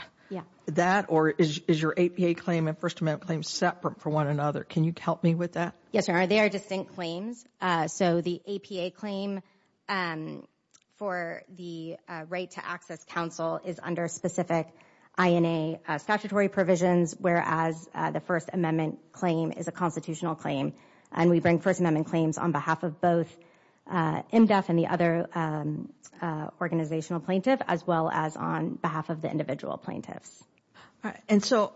that or is your APA claim and First Amendment claim separate for one another? Can you help me with that? Yes, they are distinct claims. So the APA claim for the right to access counsel is under specific INA statutory provisions, whereas the First Amendment claim is a constitutional claim. And we bring First Amendment claims on behalf of both MDEF and the other organizational plaintiff, as well as on behalf of the individual plaintiffs. And so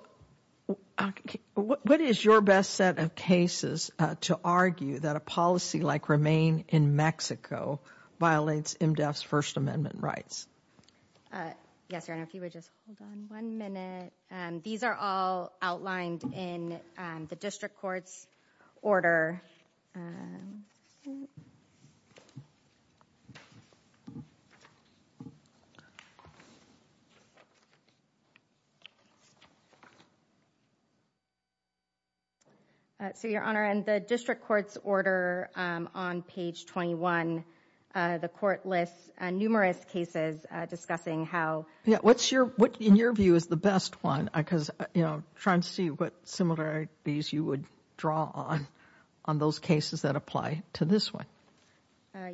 what is your best set of cases to argue that a policy like Remain in Mexico violates MDEF's First Amendment rights? Yes, Your Honor, if you would just hold on one minute. These are all outlined in the district court's order. So, Your Honor, in the district court's order on page 21, the court lists numerous cases discussing how. Yeah, what's your what, in your view, is the best one? Because, you know, trying to see what similarities you would draw on on those cases that apply to this one.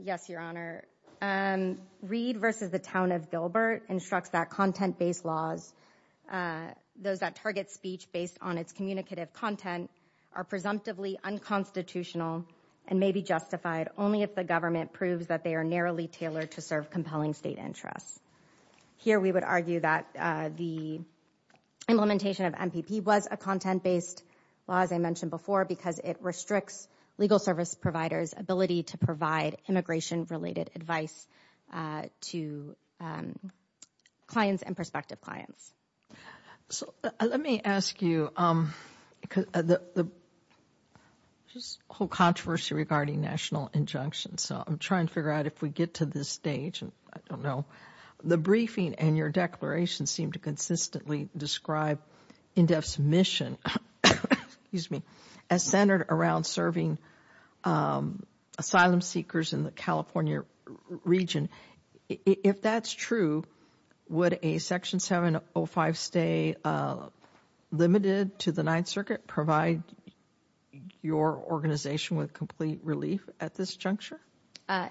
Yes, Your Honor. Reed v. The Town of Gilbert instructs that content-based laws, those that target speech based on its communicative content, are presumptively unconstitutional and may be justified only if the government proves that they are narrowly tailored to serve compelling state interests. Here, we would argue that the implementation of MPP was a content-based law, as I mentioned before, because it restricts legal service providers' ability to provide immigration-related advice to clients and prospective clients. So, let me ask you, just a whole controversy regarding national injunctions. So, I'm trying to figure out if we get to this stage, and I don't know. The briefing and your declaration seem to consistently describe MDEF's mission, excuse me, as centered around serving asylum seekers in the California region. If that's true, would a Section 705 stay limited to the Ninth Circuit provide your organization with complete relief at this juncture?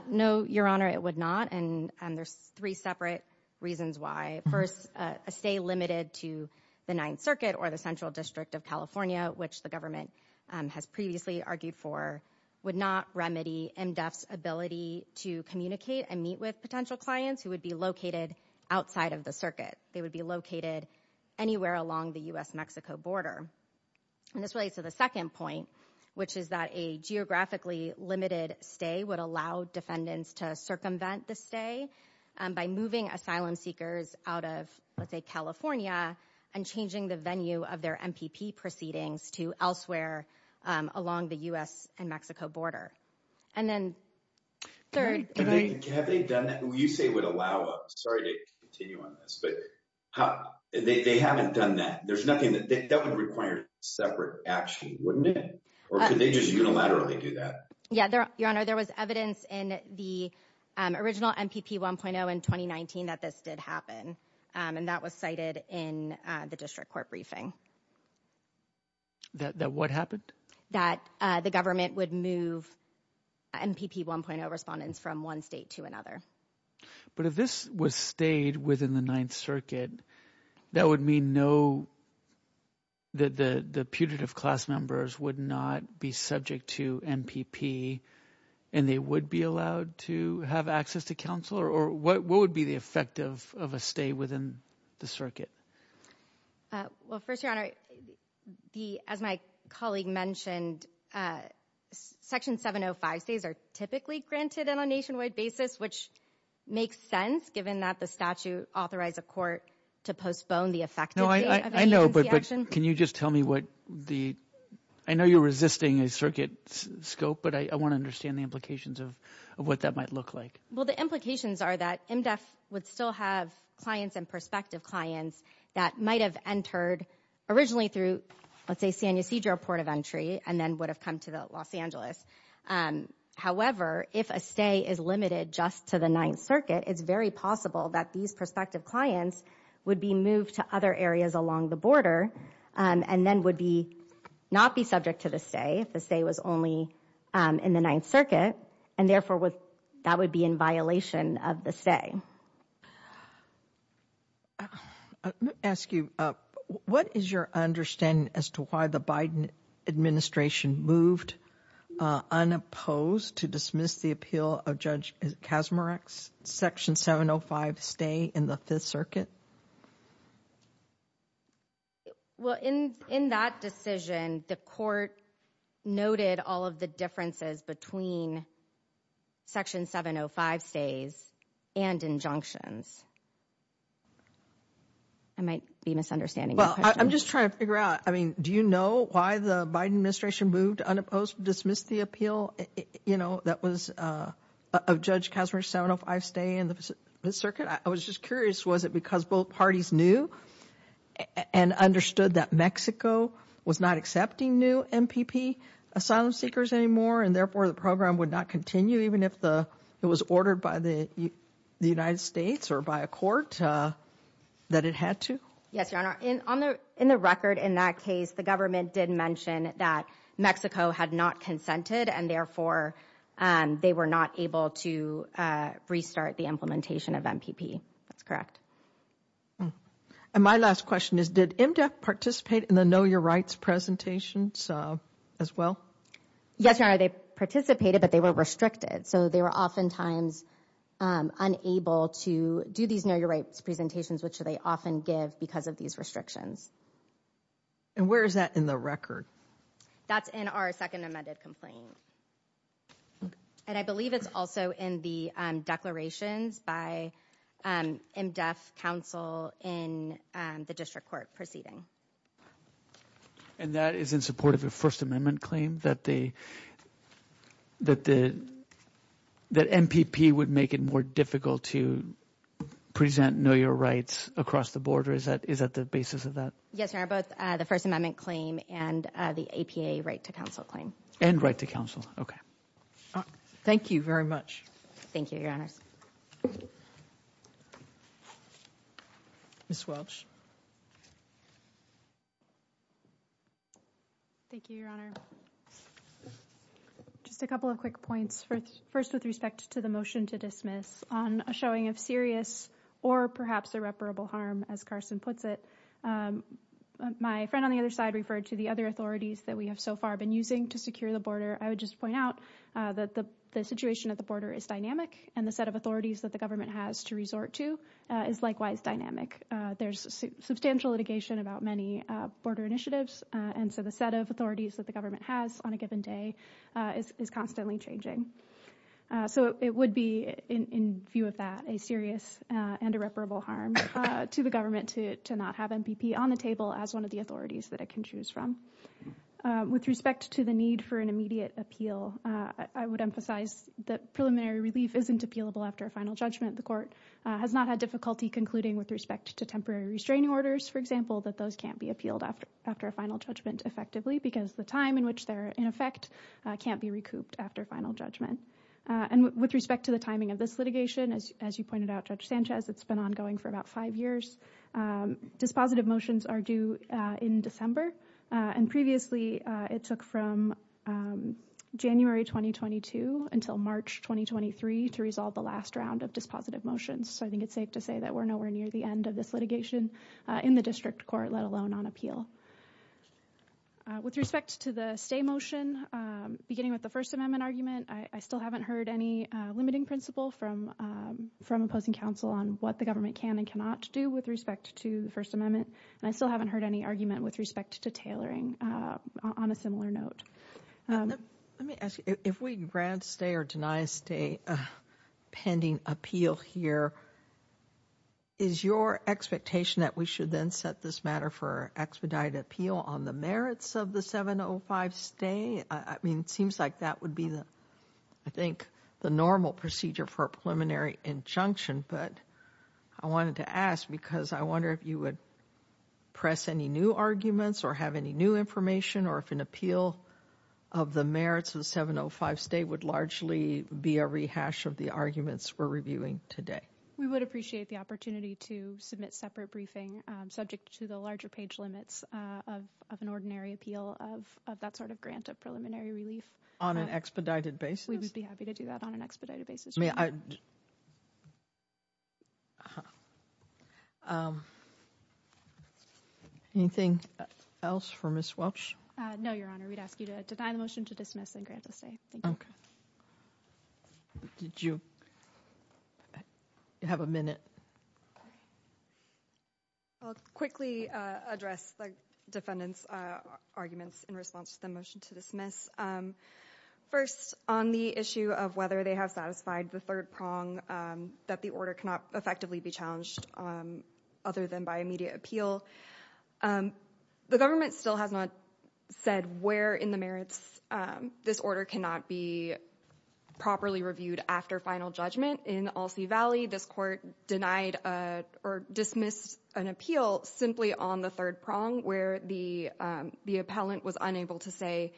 No, Your Honor, it would not. And there's three separate reasons why. First, a stay limited to the Ninth Circuit or the Central District of California, which the government has previously argued for, would not remedy MDEF's ability to communicate and meet with potential clients who would be located outside of the circuit. They would be located anywhere along the U.S.-Mexico border. And this relates to the second point, which is that a geographically limited stay would allow defendants to circumvent the stay by moving asylum seekers out of, let's say, California and changing the venue of their MPP proceedings to elsewhere along the U.S. and Mexico border. And then third- Have they done that? Who you say would allow it? Sorry to continue on this, but they haven't done that. There's nothing that, that would require separate action, wouldn't it? Or could they just unilaterally do that? Yeah, Your Honor, there was evidence in the original MPP 1.0 in 2019 that this did happen. And that was cited in the district court briefing. That what happened? That the government would move MPP 1.0 respondents from one state to another. But if this was stayed within the Ninth Circuit, that would mean no, that the putative class members would not be subject to MPP and they would be allowed to have access to counsel? Or what would be the effect of a stay within the circuit? Well, first, Your Honor, as my colleague mentioned, Section 705 stays are typically granted on a nationwide basis, which makes sense given that the statute authorized a court to postpone the effective date of agency action. Can you just tell me what the- I know you're resisting a circuit scope, but I want to understand the implications of what that might look like. Well, the implications are that MDEF would still have clients and prospective clients that might've entered originally through, let's say San Ysidro Port of Entry and then would have come to the Los Angeles. However, if a stay is limited just to the Ninth Circuit, it's very possible that these prospective clients would be moved to other areas along the border and then would not be subject to the stay if the stay was only in the Ninth Circuit. And therefore, that would be in violation of the stay. Let me ask you, what is your understanding as to why the Biden administration moved unopposed to dismiss the appeal of Judge Kazmarek's Section 705 stay in the Fifth Circuit? Well, in that decision, the court noted all of the differences between Section 705 stays and injunctions. I might be misunderstanding your question. Well, I'm just trying to figure out, I mean, do you know why the Biden administration moved unopposed to dismiss the appeal that was of Judge Kazmarek's 705 stay in the Fifth Circuit? I was just curious, was it because both parties knew and understood that Mexico was not accepting new MPP asylum seekers anymore, and therefore the program would not continue even if it was ordered by the United States or by a court that it had to? Yes, Your Honor, in the record in that case, the government did mention that Mexico had not consented and therefore they were not able to restart the implementation of MPP. That's correct. And my last question is, did MDEF participate in the Know Your Rights presentations as well? Yes, Your Honor, they participated, but they were restricted. So they were oftentimes unable to do these Know Your Rights presentations, which they often give because of these restrictions. And where is that in the record? That's in our second amended complaint. And I believe it's also in the declarations by MDEF counsel in the district court proceeding. And that is in support of the First Amendment claim that MPP would make it more difficult to present Know Your Rights across the border? Is that the basis of that? Yes, Your Honor, both the First Amendment claim and the APA Right to Counsel claim. And Right to Counsel, okay. Thank you very much. Thank you, Your Honors. Ms. Welch. Thank you, Your Honor. Just a couple of quick points. First, with respect to the motion to dismiss on a showing of serious or perhaps irreparable harm, as Carson puts it. My friend on the other side referred to the other authorities that we have so far been using to secure the border. I would just point out that the situation at the border is dynamic, and the set of authorities that the government has to resort to is likewise dynamic. There's substantial litigation about many border initiatives. And so the set of authorities that the government has on a given day is constantly changing. So it would be, in view of that, a serious and irreparable harm to the government to not have MPP on the table as one of the authorities that it can choose from. With respect to the need for an immediate appeal, I would emphasize that preliminary relief isn't appealable after a final judgment. The court has not had difficulty concluding with respect to temporary restraining orders, for example, that those can't be appealed after a final judgment effectively, because the time in which they're in effect can't be recouped after final judgment. And with respect to the timing of this litigation, as you pointed out, Judge Sanchez, it's been ongoing for about five years. Dispositive motions are due in December. And previously, it took from January 2022 until March 2023 to resolve the last round of dispositive motions. So I think it's safe to say that we're nowhere near the end of this litigation. In the district court, let alone on appeal. With respect to the stay motion, beginning with the First Amendment argument, I still haven't heard any limiting principle from opposing counsel on what the government can and cannot do with respect to the First Amendment. And I still haven't heard any argument with respect to tailoring on a similar note. Let me ask you, if we grant stay or deny stay pending appeal here, is your expectation that we should then set this matter for expedited appeal on the merits of the 705 stay? I mean, it seems like that would be the, I think, the normal procedure for a preliminary injunction. But I wanted to ask because I wonder if you would press any new arguments or have any new information, or if an appeal of the merits of the 705 stay would largely be a rehash of the arguments we're reviewing today. We would appreciate the opportunity to submit separate briefing subject to the larger page limits of an ordinary appeal of that sort of grant of preliminary relief. On an expedited basis? We would be happy to do that on an expedited basis. May I? Anything else for Ms. Welch? No, Your Honor. We'd ask you to deny the motion to dismiss and grant the stay. Thank you. Ms. Welch, did you have a minute? I'll quickly address the defendant's arguments in response to the motion to dismiss. First, on the issue of whether they have satisfied the third prong that the order cannot effectively be challenged other than by immediate appeal. The government still has not said where in the merits this order cannot be properly reviewed after final judgment. In Alsea Valley, this court denied or dismissed an appeal simply on the third prong, where the appellant was unable to say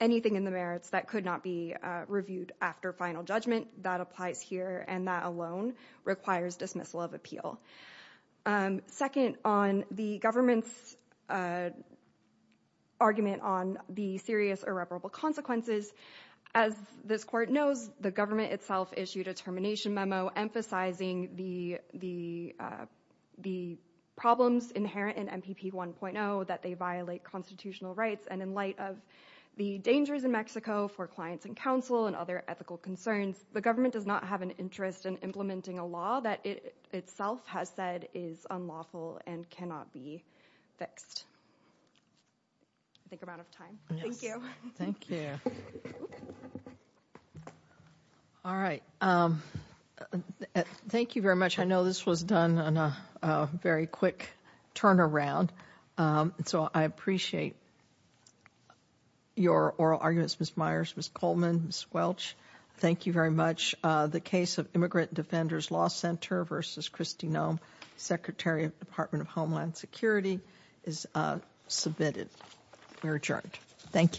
anything in the merits that could not be reviewed after final judgment. That applies here, and that alone requires dismissal of appeal. Second, on the government's argument on the serious irreparable consequences. As this court knows, the government itself issued a termination memo emphasizing the problems inherent in MPP 1.0, that they violate constitutional rights. And in light of the dangers in Mexico for clients and counsel and other ethical concerns, the government does not have an interest in implementing a law that it itself has said is unlawful and cannot be fixed. I think I'm out of time. Thank you. Thank you. All right. Thank you very much. I know this was done on a very quick turnaround. So I appreciate your oral arguments, Ms. Myers, Ms. Coleman, Ms. Welch. Thank you very much. The case of Immigrant Defenders Law Center versus Kristi Noem, Secretary of Department of Homeland Security, is submitted. We're adjourned. Thank you.